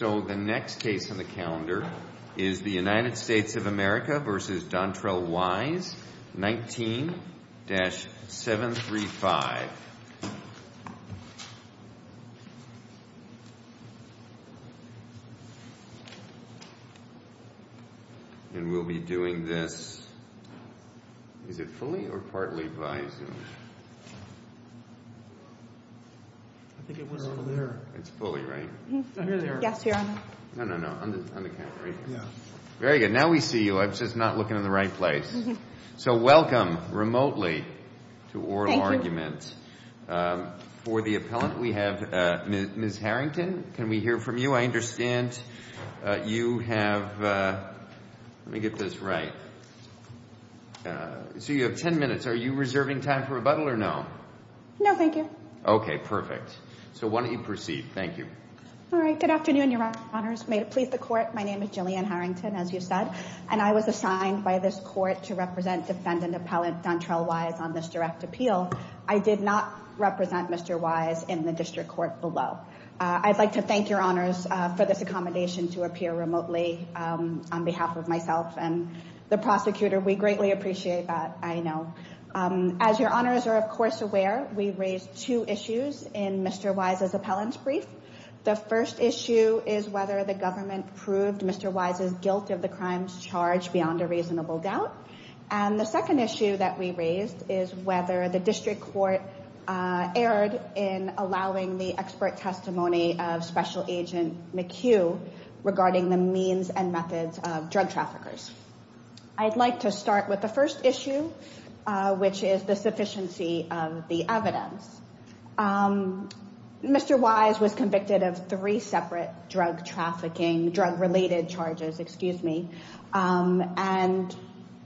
So the next case on the calendar is the United States of America v. Dontrell Wise, 19-735. And we'll be doing this, is it fully or partly by Zoom? I think it was fully. It's fully, right? Here they are. Yes, here they are. No, no, no. On the calendar, right here. Yes. Very good. Now we see you. I was just not looking in the right place. So welcome, remotely, to Oral Argument. Thank you. For the appellant, we have Ms. Harrington. Can we hear from you? I understand you have, let me get this right, so you have 10 minutes. Are you reserving time for rebuttal or no? No, thank you. Okay, perfect. So why don't you proceed. Thank you. All right. Good afternoon, Your Honors. May it please the Court. My name is Jillian Harrington, as you said, and I was assigned by this Court to represent Defendant Appellant Dontrell Wise on this direct appeal. I did not represent Mr. Wise in the District Court below. I'd like to thank Your Honors for this accommodation to appear remotely on behalf of myself and the prosecutor. We greatly appreciate that, I know. As Your Honors are, of course, aware, we raised two issues in Mr. Wise's appellant's brief. The first issue is whether the government proved Mr. Wise's guilt of the crimes charged beyond a reasonable doubt. And the second issue that we raised is whether the District Court erred in allowing the expert testimony of Special Agent McHugh regarding the means and methods of drug traffickers. I'd like to start with the first issue, which is the sufficiency of the evidence. Mr. Wise was convicted of three separate drug trafficking, drug-related charges, excuse me, and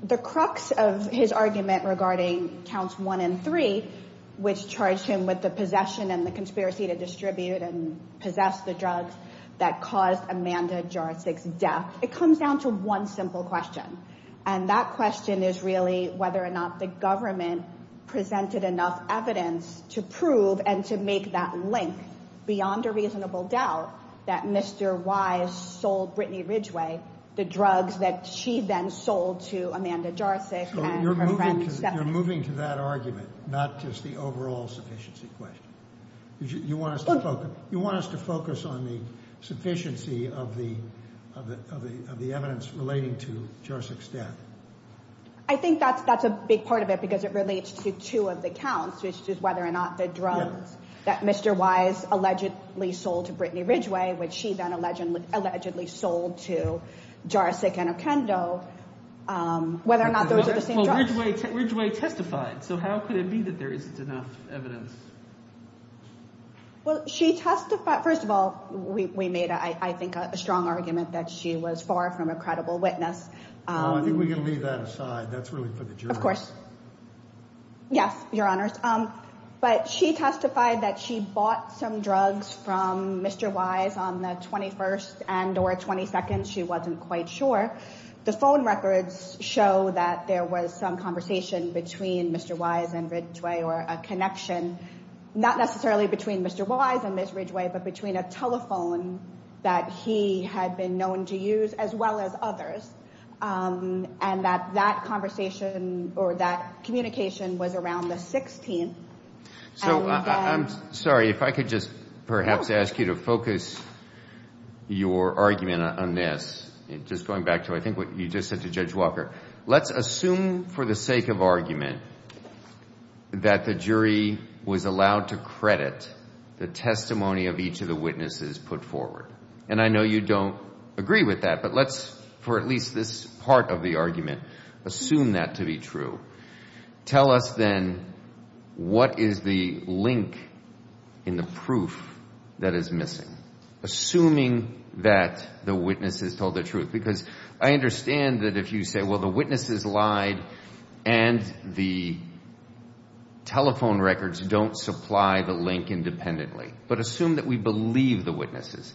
the crux of his argument regarding Counts 1 and 3, which charged him with the possession and the conspiracy to distribute and possess the drugs that caused Amanda Jarczyk's death. It comes down to one simple question. And that question is really whether or not the government presented enough evidence to prove and to make that link beyond a reasonable doubt that Mr. Wise sold Brittany Ridgway the drugs that she then sold to Amanda Jarczyk and her friends. You're moving to that argument, not just the overall sufficiency question. You want us to focus on the sufficiency of the evidence relating to Jarczyk's death. I think that's a big part of it because it relates to two of the counts, which is whether or not the drugs that Mr. Wise allegedly sold to Brittany Ridgway, which she then allegedly sold to Jarczyk and Ocando, whether or not those are the same drugs. Ridgway testified. So how could it be that there isn't enough evidence? Well, she testified, first of all, we made, I think, a strong argument that she was far from a credible witness. No, I think we can leave that aside. That's really for the jury. Of course. Yes, Your Honors. But she testified that she bought some drugs from Mr. Wise on the 21st and or 22nd. She wasn't quite sure. The phone records show that there was some conversation between Mr. Wise and Ridgway or a connection, not necessarily between Mr. Wise and Ms. Ridgway, but between a telephone that he had been known to use, as well as others, and that that conversation or that communication was around the 16th. I'm sorry, if I could just perhaps ask you to focus your argument on this, just going back to, I think, what you just said to Judge Walker, let's assume for the sake of argument that the jury was allowed to credit the testimony of each of the witnesses put forward. And I know you don't agree with that, but let's, for at least this part of the argument, assume that to be true. Tell us then what is the link in the proof that is missing, assuming that the witnesses told the truth? Because I understand that if you say, well, the witnesses lied and the telephone records don't supply the link independently. But assume that we believe the witnesses.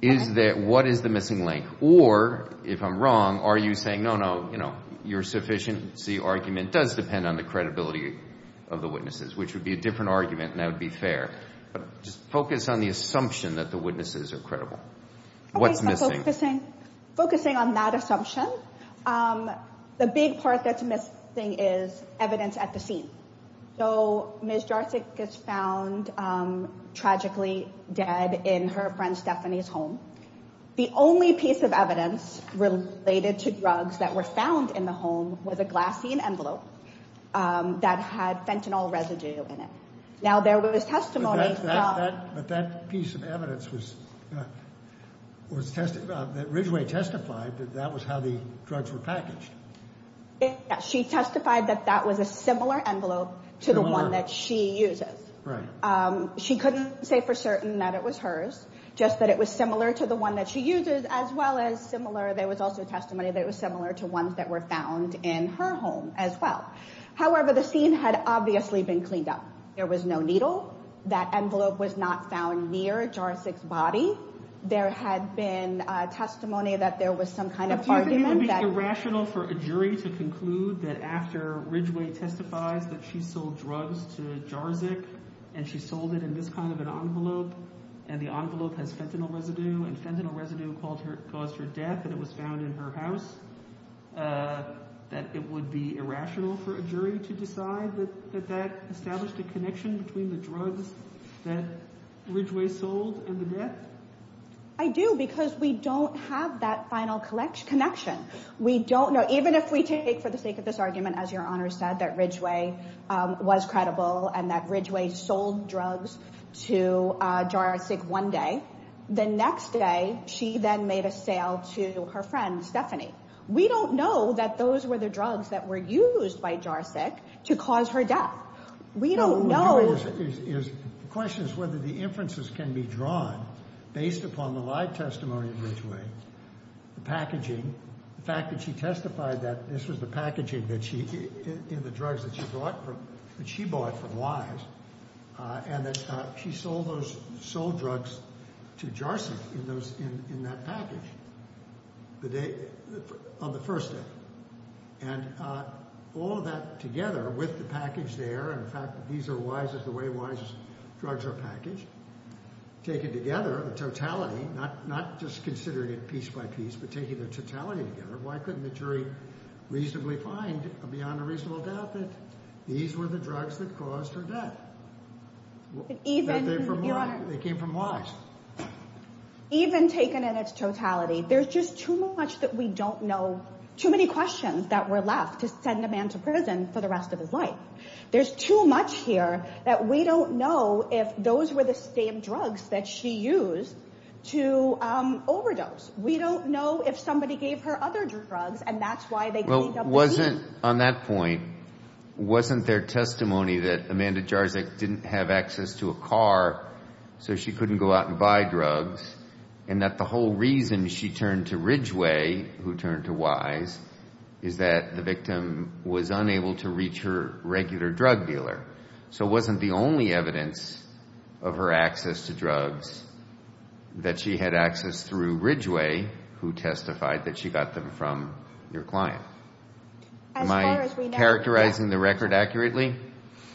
Is there, what is the missing link? Or if I'm wrong, are you saying, no, no, you know, your sufficiency argument does depend on the credibility of the witnesses, which would be a different argument and that would be fair. But just focus on the assumption that the witnesses are credible. What's missing? Okay, so focusing on that assumption, the big part that's missing is evidence at the scene. So Ms. Jarsic is found tragically dead in her friend Stephanie's home. The only piece of evidence related to drugs that were found in the home was a glassine envelope that had fentanyl residue in it. Now, there was testimony that that piece of evidence was that Ridgway testified that that was how the drugs were packaged. She testified that that was a similar envelope to the one that she uses. She couldn't say for certain that it was hers, just that it was similar to the one that she uses as well as similar. There was also testimony that it was similar to ones that were found in her home as well. However, the scene had obviously been cleaned up. There was no needle. That envelope was not found near Jarsic's body. There had been testimony that there was some kind of argument that... Do you think it would be irrational for a jury to conclude that after Ridgway testifies that she sold drugs to Jarsic and she sold it in this kind of an envelope and the envelope has fentanyl residue and fentanyl residue caused her death and it was found in her house, that it would be irrational for a jury to decide that that established a connection between the drugs that Ridgway sold and the death? I do because we don't have that final connection. We don't know. Even if we take for the sake of this argument, as your Honor said, that Ridgway was credible and that Ridgway sold drugs to Jarsic one day. The next day, she then made a sale to her friend, Stephanie. We don't know that those were the drugs that were used by Jarsic to cause her death. We don't know. The question is whether the inferences can be drawn based upon the live testimony of Ridgway, the packaging, the fact that she testified that this was the packaging in the to Jarsic in that package on the first day. And all of that together with the package there and the fact that these are the way wives' drugs are packaged, taken together, the totality, not just considering it piece by piece, but taking the totality together, why couldn't the jury reasonably find beyond a reasonable doubt that these were the drugs that caused her death? Even, your Honor? They came from Lodge. Even taken in its totality, there's just too much that we don't know. Too many questions that were left to send a man to prison for the rest of his life. There's too much here that we don't know if those were the same drugs that she used to overdose. We don't know if somebody gave her other drugs and that's why they got AWD. On that point, wasn't there testimony that Amanda Jarsic didn't have access to a car so she couldn't go out and buy drugs and that the whole reason she turned to Ridgway, who turned to Wise, is that the victim was unable to reach her regular drug dealer. So wasn't the only evidence of her access to drugs that she had access through Ridgway, who testified that she got them from your client? Am I characterizing the record accurately?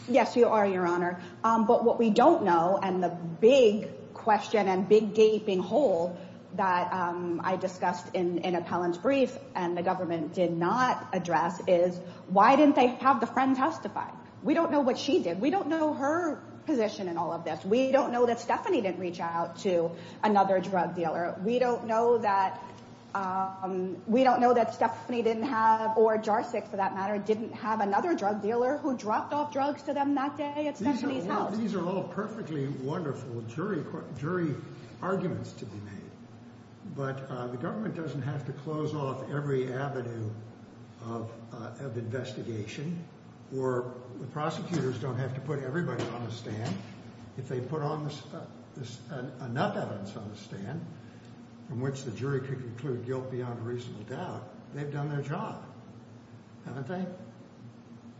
Yes, you are, your Honor. But what we don't know and the big question and big gaping hole that I discussed in an appellant's brief and the government did not address is, why didn't they have the friend testify? We don't know what she did. We don't know her position in all of this. We don't know that Stephanie didn't reach out to another drug dealer. We don't know that Stephanie didn't have, or Jarsic for that matter, didn't have another drug dealer who dropped off drugs to them that day at Stephanie's house. These are all perfectly wonderful jury arguments to be made. But the government doesn't have to close off every avenue of investigation or the prosecutors don't have to put everybody on the stand. If they put on enough evidence on the stand from which the jury could conclude guilt beyond a reasonable doubt, they've done their job, haven't they?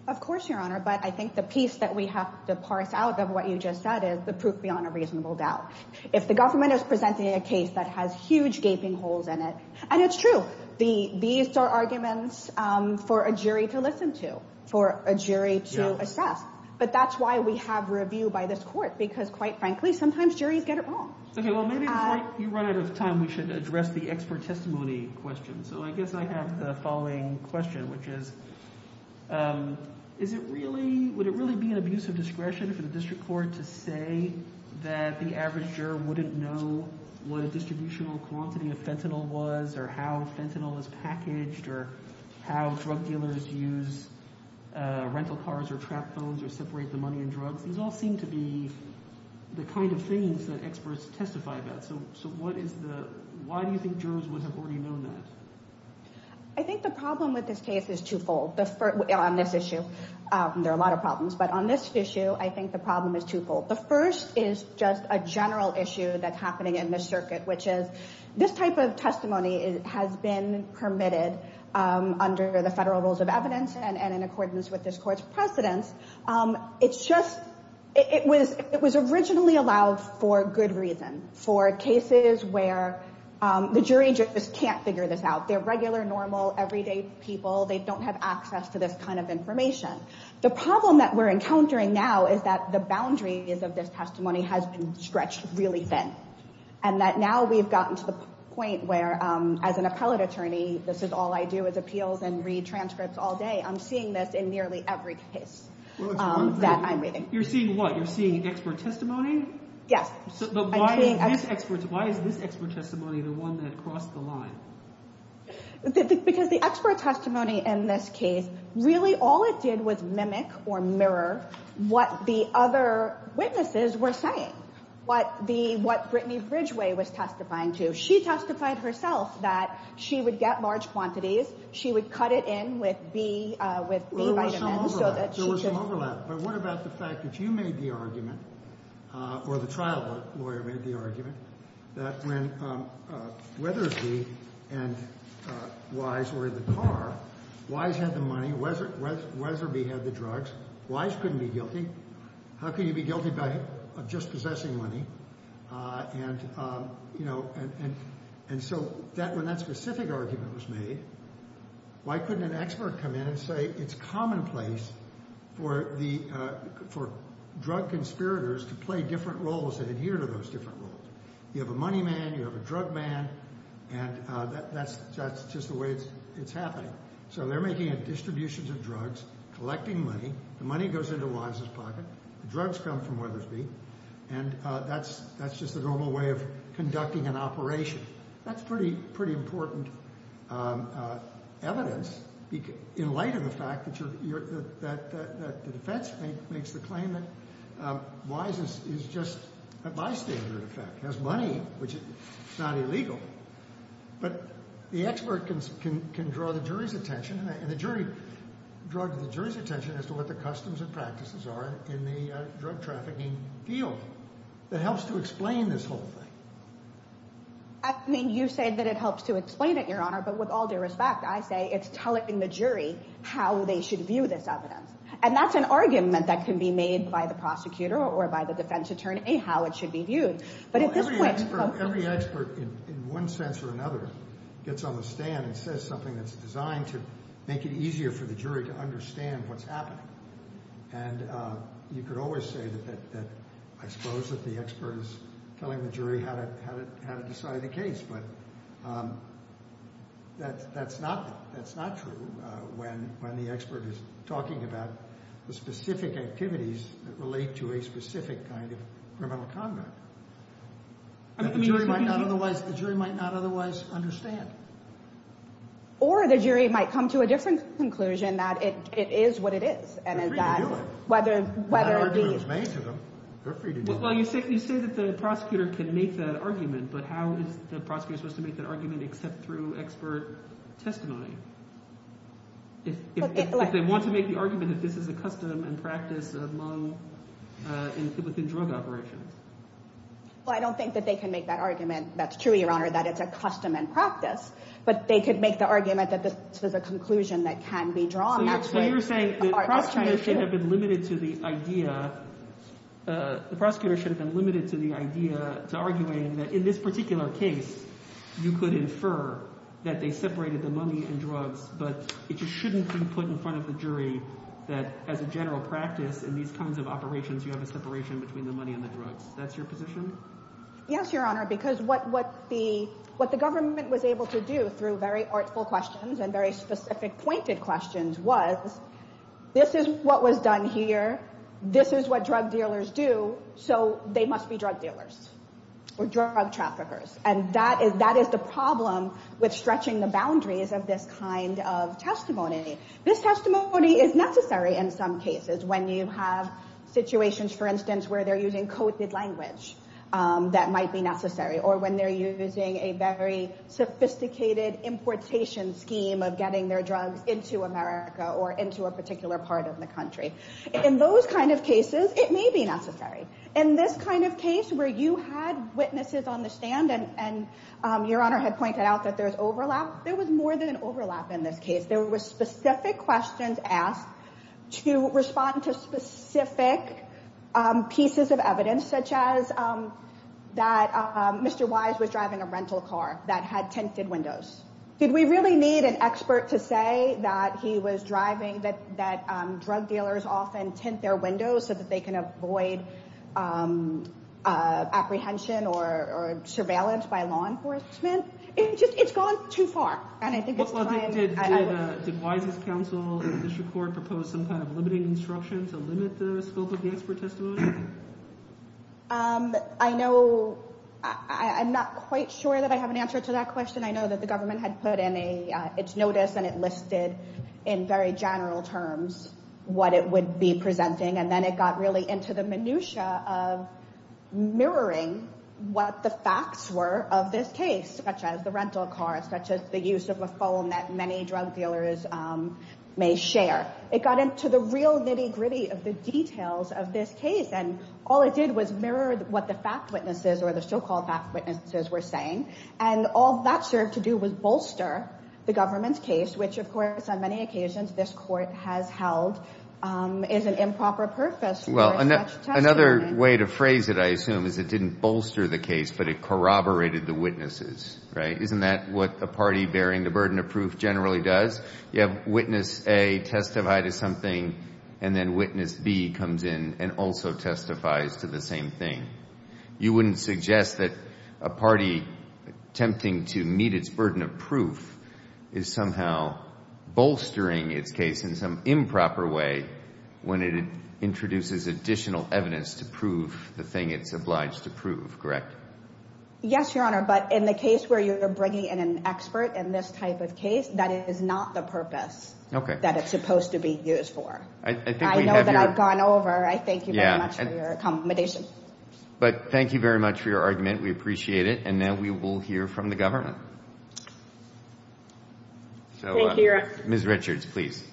Of course, your Honor. But I think the piece that we have to parse out of what you just said is the proof beyond a reasonable doubt. If the government is presenting a case that has huge gaping holes in it, and it's true, these are arguments for a jury to listen to, for a jury to assess. But that's why we have review by this court, because quite frankly, sometimes juries get it wrong. Okay, well maybe it's like you run out of time, we should address the expert testimony question. So I guess I have the following question, which is, would it really be an abuse of discretion for the district court to say that the average juror wouldn't know what a distributional quantity of fentanyl was, or how fentanyl is packaged, or how drug dealers use rental cars, or trap phones, or separate the money and drugs? These all seem to be the kind of things that experts testify about, so why do you think jurors would have already known that? I think the problem with this case is twofold, on this issue, there are a lot of problems, but on this issue, I think the problem is twofold. The first is just a general issue that's happening in this circuit, which is, this type of testimony has been permitted under the federal rules of evidence, and in accordance with this court's precedents. It's just, it was originally allowed for good reason, for cases where the jury just can't figure this out. They're regular, normal, everyday people, they don't have access to this kind of information. The problem that we're encountering now is that the boundaries of this testimony has been stretched really thin, and that now we've gotten to the point where, as an appellate attorney, this is all I do is appeals and read transcripts all day. I'm seeing this in nearly every case that I'm reading. You're seeing what? You're seeing expert testimony? Yes. But why is this expert testimony the one that crossed the line? Because the expert testimony in this case, really all it did was mimic, or mirror, what the other witnesses were saying, what Brittany Bridgeway was testifying to. She testified herself that she would get large quantities, she would cut it in with B vitamins Well, there was some overlap. There was some overlap. But what about the fact that you made the argument, or the trial lawyer made the argument, that when Wethersby and Wise were in the car, Wise had the money, Wetherby had the drugs, Wise couldn't be guilty. How can you be guilty of just possessing money? And so when that specific argument was made, why couldn't an expert come in and say it's commonplace for drug conspirators to play different roles and adhere to those different roles? You have a money man, you have a drug man, and that's just the way it's happening. So they're making distributions of drugs, collecting money, the money goes into Wise's pocket, the drugs come from Wethersby, and that's just the normal way of conducting an operation. That's pretty important evidence, in light of the fact that the defense makes the claim that Wise is just bystander, in fact, has money, which is not illegal. But the expert can draw the jury's attention, and the jury draws the jury's attention as to what the customs and practices are in the drug trafficking field. That helps to explain this whole thing. You say that it helps to explain it, Your Honor, but with all due respect, I say it's tell it in the jury how they should view this evidence. And that's an argument that can be made by the prosecutor or by the defense attorney how it should be viewed. Every expert, in one sense or another, gets on the stand and says something that's designed to make it easier for the jury to understand what's happening. And you could always say that, I suppose, that the expert is telling the jury how to decide a case, but that's not true when the expert is talking about the specific activities that relate to a specific kind of criminal conduct that the jury might not otherwise understand. Or the jury might come to a different conclusion that it is what it is. They're free to do it. That argument was made to them. They're free to do it. Well, you say that the prosecutor can make that argument, but how is the prosecutor supposed to make that argument except through expert testimony? If they want to make the argument that this is a custom and practice among, within drug operations. Well, I don't think that they can make that argument. That's true, Your Honor, that it's a custom and practice. But they could make the argument that this is a conclusion that can be drawn. So you're saying that prosecutors should have been limited to the idea, the prosecutor should have been limited to the idea, to arguing that in this particular case, you could infer that they separated the money and drugs, but it just shouldn't be put in front of the jury that as a general practice in these kinds of operations, you have a separation between the money and the drugs. That's your position? Yes, Your Honor, because what the government was able to do through very artful questions and very specific pointed questions was, this is what was done here. This is what drug dealers do. So they must be drug dealers or drug traffickers. And that is the problem with stretching the boundaries of this kind of testimony. This testimony is necessary in some cases when you have situations, for instance, where they're using coded language that might be necessary or when they're using a very sophisticated importation scheme of getting their drugs into America or into a particular part of the country. In those kind of cases, it may be necessary. In this kind of case where you had witnesses on the stand and Your Honor had pointed out that there's overlap, there was more than an overlap in this case. There were specific questions asked to respond to specific pieces of evidence such as that Mr. Wise was driving a rental car that had tinted windows. Did we really need an expert to say that he was driving, that drug dealers often tint their windows so that they can avoid apprehension or surveillance by law enforcement? It's just, it's gone too far. And I think it's time. Did Wise's counsel at the district court propose some kind of limiting instruction to limit the scope of the expert testimony? I know, I'm not quite sure that I have an answer to that question. I know that the government had put in its notice and it listed in very general terms what it would be presenting. And then it got really into the minutiae of mirroring what the facts were of this case, such as the rental car, such as the use of a phone that many drug dealers may share. It got into the real nitty gritty of the details of this case. And all it did was mirror what the fact witnesses or the so-called fact witnesses were saying. And all that served to do was bolster the government's case, which of course on many occasions this court has held is an improper purpose for such testimony. Well, another way to phrase it, I assume, is it didn't bolster the case but it corroborated the witnesses, right? Isn't that what a party bearing the burden of proof generally does? You have witness A testify to something and then witness B comes in and also testifies to the same thing. You wouldn't suggest that a party attempting to meet its burden of proof is somehow bolstering its case in some improper way when it introduces additional evidence to prove the thing it's obliged to prove, correct? Yes, Your Honor, but in the case where you're bringing in an expert in this type of case that is not the purpose that it's supposed to be used for. I know that I've gone over. I thank you very much for your accommodation. But thank you very much for your argument. We appreciate it. And now we will hear from the government. Ms. Richards, please.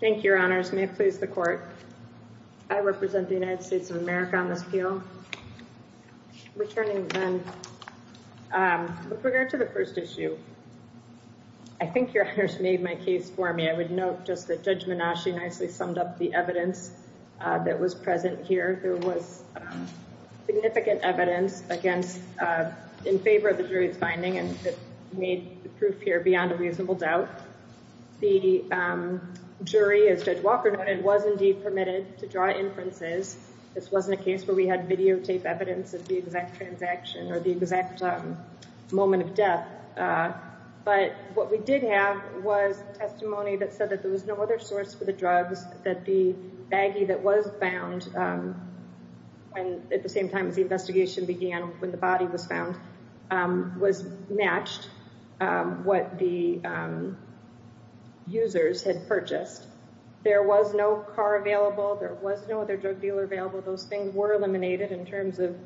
Thank you, Your Honors. May it please the Court. I represent the United States of America on this appeal. Returning then, with regard to the first issue, I think Your Honors made my case for me. I would note just that Judge Minasci nicely summed up the evidence that was present here. There was significant evidence against, in favor of the jury's finding and in favor that made the proof here beyond a reasonable doubt. The jury, as Judge Walker noted, was indeed permitted to draw inferences. This wasn't a case where we had videotape evidence of the exact transaction or the exact moment of death. But what we did have was testimony that said that there was no other source for the drugs, that the baggie that was found at the same time as the investigation began, when the body was found, was matched what the users had purchased. There was no car available. There was no other drug dealer available. Those things were eliminated in terms of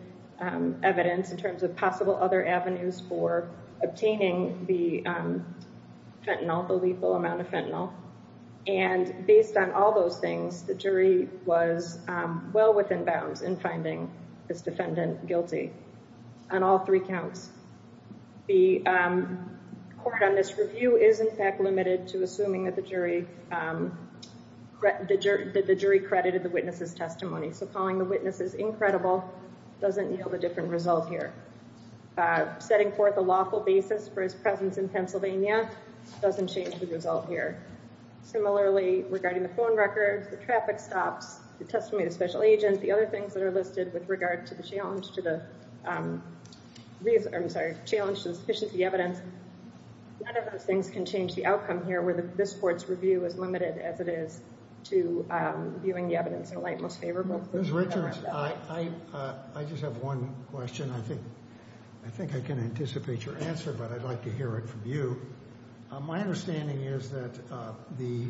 evidence, in terms of possible other avenues for obtaining the fentanyl, the lethal amount of fentanyl. And based on all those things, the jury was well within bounds in finding this defendant guilty on all three counts. The court on this review is in fact limited to assuming that the jury credited the witnesses' testimony. So calling the witnesses incredible doesn't yield a different result here. Setting forth a lawful basis for his presence in Pennsylvania doesn't change the result here. Similarly, regarding the phone records, the traffic stops, the testimony of the special agent, the other things that are listed with regard to the challenge to the sufficiency of the evidence, none of those things can change the outcome here, where this court's review is limited as it is to viewing the evidence in the light most favorable. Ms. Richards, I just have one question. I think I can anticipate your answer, but I'd like to hear it from you. My understanding is that the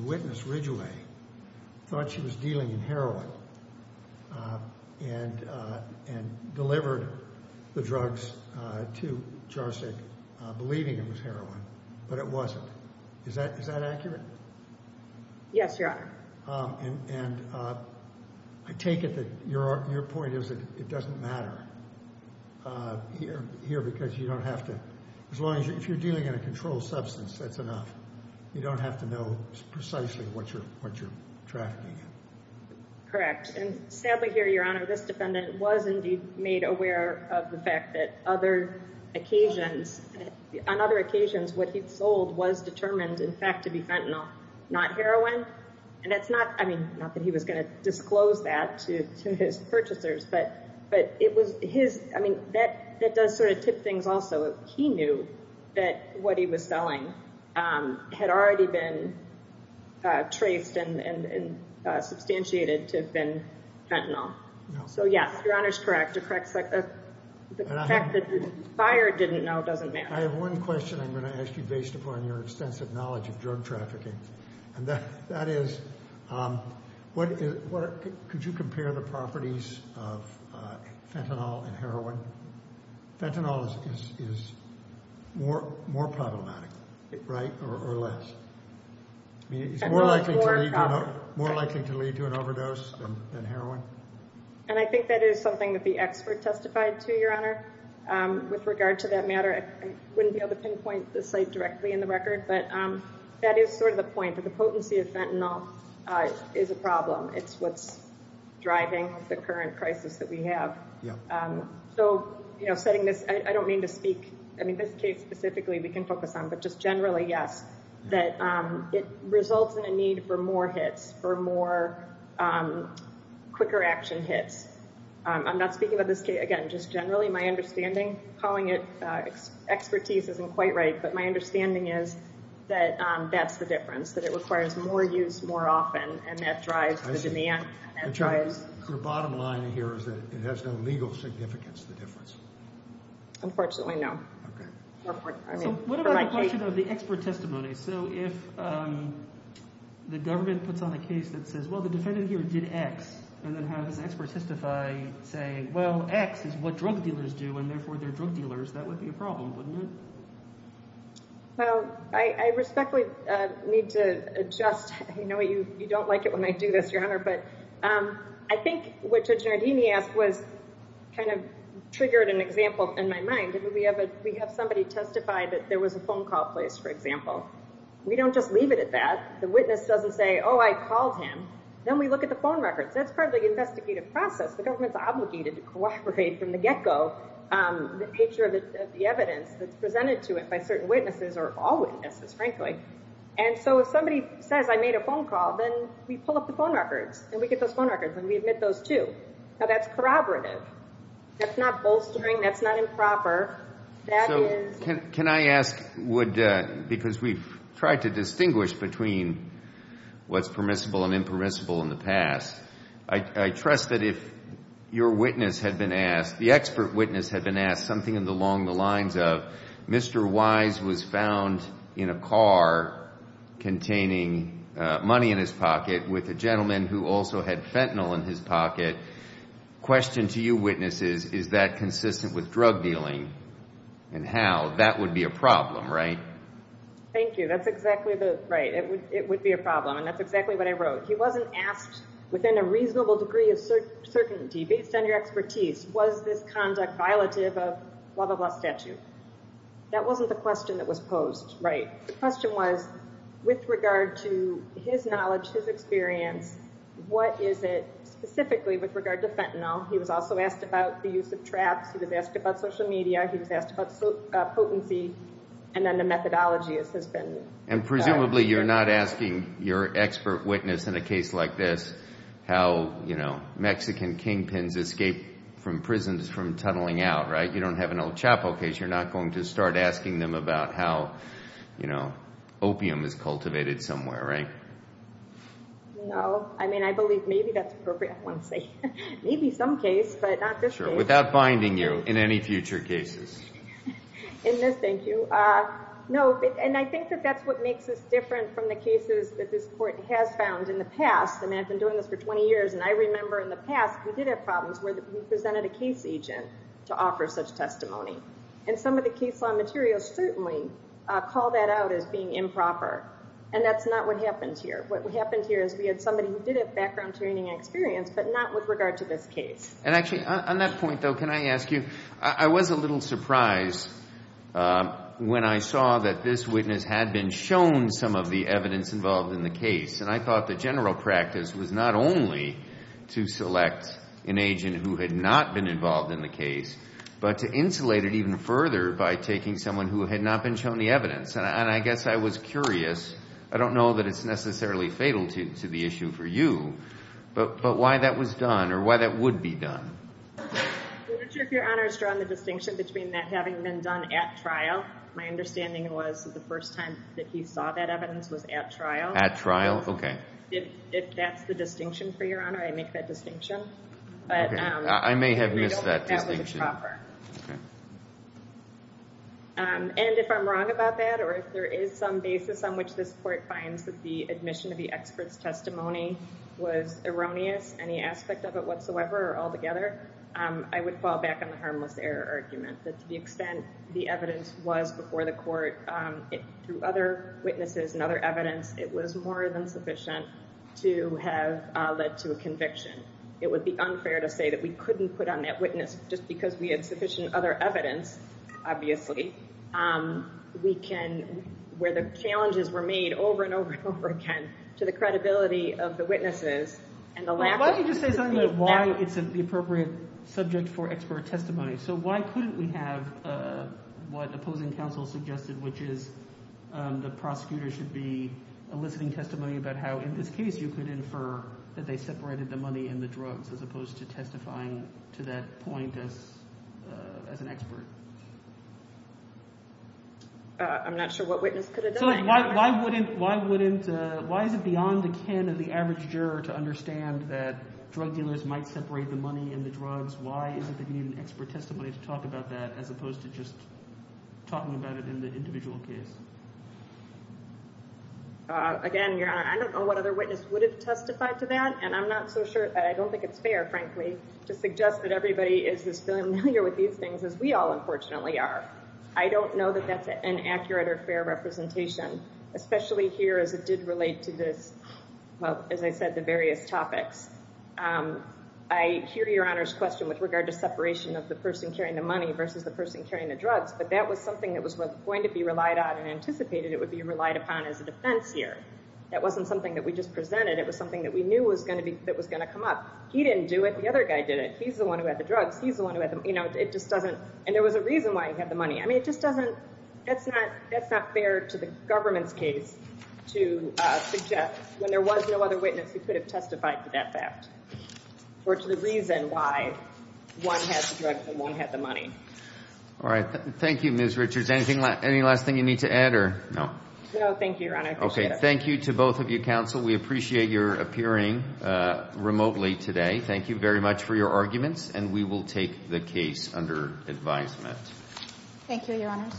witness Ridgway thought she was dealing in heroin and delivered the drugs to Jarsik believing it was heroin, but it wasn't. Is that accurate? Yes, Your Honor. And I take it that your point is that it doesn't matter here, because you don't have to, as long as, if you're dealing in a controlled substance, that's enough. You don't have to know precisely what you're trafficking in. Correct. And sadly here, Your Honor, this defendant was indeed made aware of the fact that other occasions, on other occasions, what he'd sold was determined, in fact, to be fentanyl, not heroin. And that's not, I mean, not that he was going to disclose that to his purchasers, but it was his, I mean, that does sort of tip things also. He knew that what he was selling had already been traced and substantiated to have been fentanyl. So yes, Your Honor's correct. The fact that the buyer didn't know doesn't matter. I have one question I'm going to ask you based upon your extensive knowledge of drug trafficking. And that is, could you compare the properties of fentanyl and heroin? Fentanyl is more problematic, right, or less? It's more likely to lead to an overdose than heroin? And I think that is something that the expert testified to, Your Honor. With regard to that matter, I wouldn't be able to pinpoint the site directly in the record, but that is sort of the point, that the potency of fentanyl is a problem. It's what's driving the current crisis that we have. So, you know, setting this, I don't mean to speak, I mean, this case specifically we can focus on, but just generally, yes, that it results in a need for more hits, for more, quicker action hits. I'm not speaking about this case, again, just generally. My understanding, calling it expertise isn't quite right, but my understanding is that that's the difference, that it requires more use more often, and that drives the demand. Your bottom line here is that it has no legal significance, the difference? Unfortunately, no. So what about the question of the expert testimony? So if the government puts on a case that says, well, the defendant here did X, and then how does the expert testify saying, well, X is what drug dealers do, and therefore they're drug dealers, that would be a problem, wouldn't it? Well, I respectfully need to adjust. I know you don't like it when I do this, Your Honor, but I think what Judge Giardini asked was kind of triggered an example in my mind. We have somebody testify that there was a phone call placed, for example. We don't just leave it at that. The witness doesn't say, oh, I called him. Then we look at the phone records. That's part of the investigative process. The government's obligated to cooperate from the get-go, the nature of the evidence that's presented to it by certain witnesses, or all witnesses, frankly. And so if somebody says, I made a phone call, then we pull up the phone records, and we get those phone records, and we admit those, too. Now, that's corroborative. That's not bolstering. That's not improper. Can I ask, because we've tried to distinguish between what's permissible and impermissible in the past, I trust that if your witness had been asked, the expert witness had been asked, something along the lines of, Mr. Wise was found in a car containing money in his pocket with a gentleman who also had fentanyl in his pocket. Question to you, witnesses, is that consistent with drug dealing? And how? That would be a problem, right? Thank you. That's exactly the, right. It would be a problem. And that's exactly what I wrote. He wasn't asked, within a reasonable degree of certainty, based on your expertise, was this conduct violative of blah, blah, blah statute. That wasn't the question that was posed, right. The question was, with regard to his knowledge, his experience, what is it specifically with regard to fentanyl? He was also asked about the use of traps. He was asked about social media. He was asked about potency. And then the methodology has been- And presumably you're not asking your expert witness in a case like this how, you know, Mexican kingpins escape from prisons from tunneling out, right? You don't have an El Chapo case. You're not going to start asking them about how, you know, opium is cultivated somewhere, right? No. I mean, I believe maybe that's appropriate. I want to say maybe some case, but not this case. Without binding you in any future cases. In this, thank you. No, and I think that that's what makes us different from the cases that this court has found in the past. And I've been doing this for 20 years. And I remember in the past, we did have problems where we presented a case agent to offer such testimony. And some of the case law materials certainly call that out as being improper. And that's not what happened here. What happened here is we had somebody who did have background training and experience, but not with regard to this case. And actually, on that point though, can I ask you, I was a little surprised when I saw that this witness had been shown some of the evidence involved in the case. And I thought the general practice was not only to select an agent who had not been involved in the case, and I guess I was curious. I don't know that it's necessarily fatal to the issue for you, but why that was done, or why that would be done? I'm not sure if Your Honor has drawn the distinction between that having been done at trial. My understanding was that the first time that he saw that evidence was at trial. At trial, okay. If that's the distinction for Your Honor, I make that distinction. Okay, I may have missed that distinction. I don't think that was proper. Okay. And if I'm wrong about that, or if there is some basis on which this Court finds that the admission of the expert's testimony was erroneous, any aspect of it whatsoever, or altogether, I would fall back on the harmless error argument. That to the extent the evidence was before the Court, through other witnesses and other evidence, it was more than sufficient to have led to a conviction. It would be unfair to say that we couldn't put on that witness just because we had sufficient other evidence, obviously. We can, where the challenges were made over and over and over again to the credibility of the witnesses, and the lack of... Why don't you just say something about why it's the appropriate subject for expert testimony. So why couldn't we have what opposing counsel suggested, which is the prosecutor should be eliciting testimony about how in this case you could infer that they separated the money and the drugs as opposed to testifying to that point as an expert? I'm not sure what witness could have done that. So why is it beyond the kin of the average juror to understand that drug dealers might separate the money and the drugs? Why is it that you need an expert testimony to talk about that as opposed to just talking about it in the individual case? Again, Your Honor, I don't know what other witness would have testified to that, and I'm not so sure, I don't think it's fair, frankly, to suggest that everybody is as familiar with these things as we all unfortunately are. I don't know that that's an accurate or fair representation, especially here as it did relate to this... Well, as I said, the various topics. I hear Your Honor's question with regard to separation of the person carrying the money versus the person carrying the drugs, but that was something that was going to be relied on and anticipated it would be relied upon as a defense here. That wasn't something that we just presented. It was something that we knew was going to come up. He didn't do it. The other guy did it. He's the one who had the drugs. He's the one who had the... It just doesn't... And there was a reason why he had the money. I mean, it just doesn't... That's not fair to the government's case to suggest when there was no other witness who could have testified to that fact or to the reason why one had the drugs and one had the money. All right. Thank you, Ms. Richards. Any last thing you need to add or... No? No, thank you, Your Honor. I appreciate it. Okay. Thank you to both of you, counsel. We appreciate your appearing remotely today. Thank you very much for your arguments, and we will take the case under advisement. Thank you, Your Honor.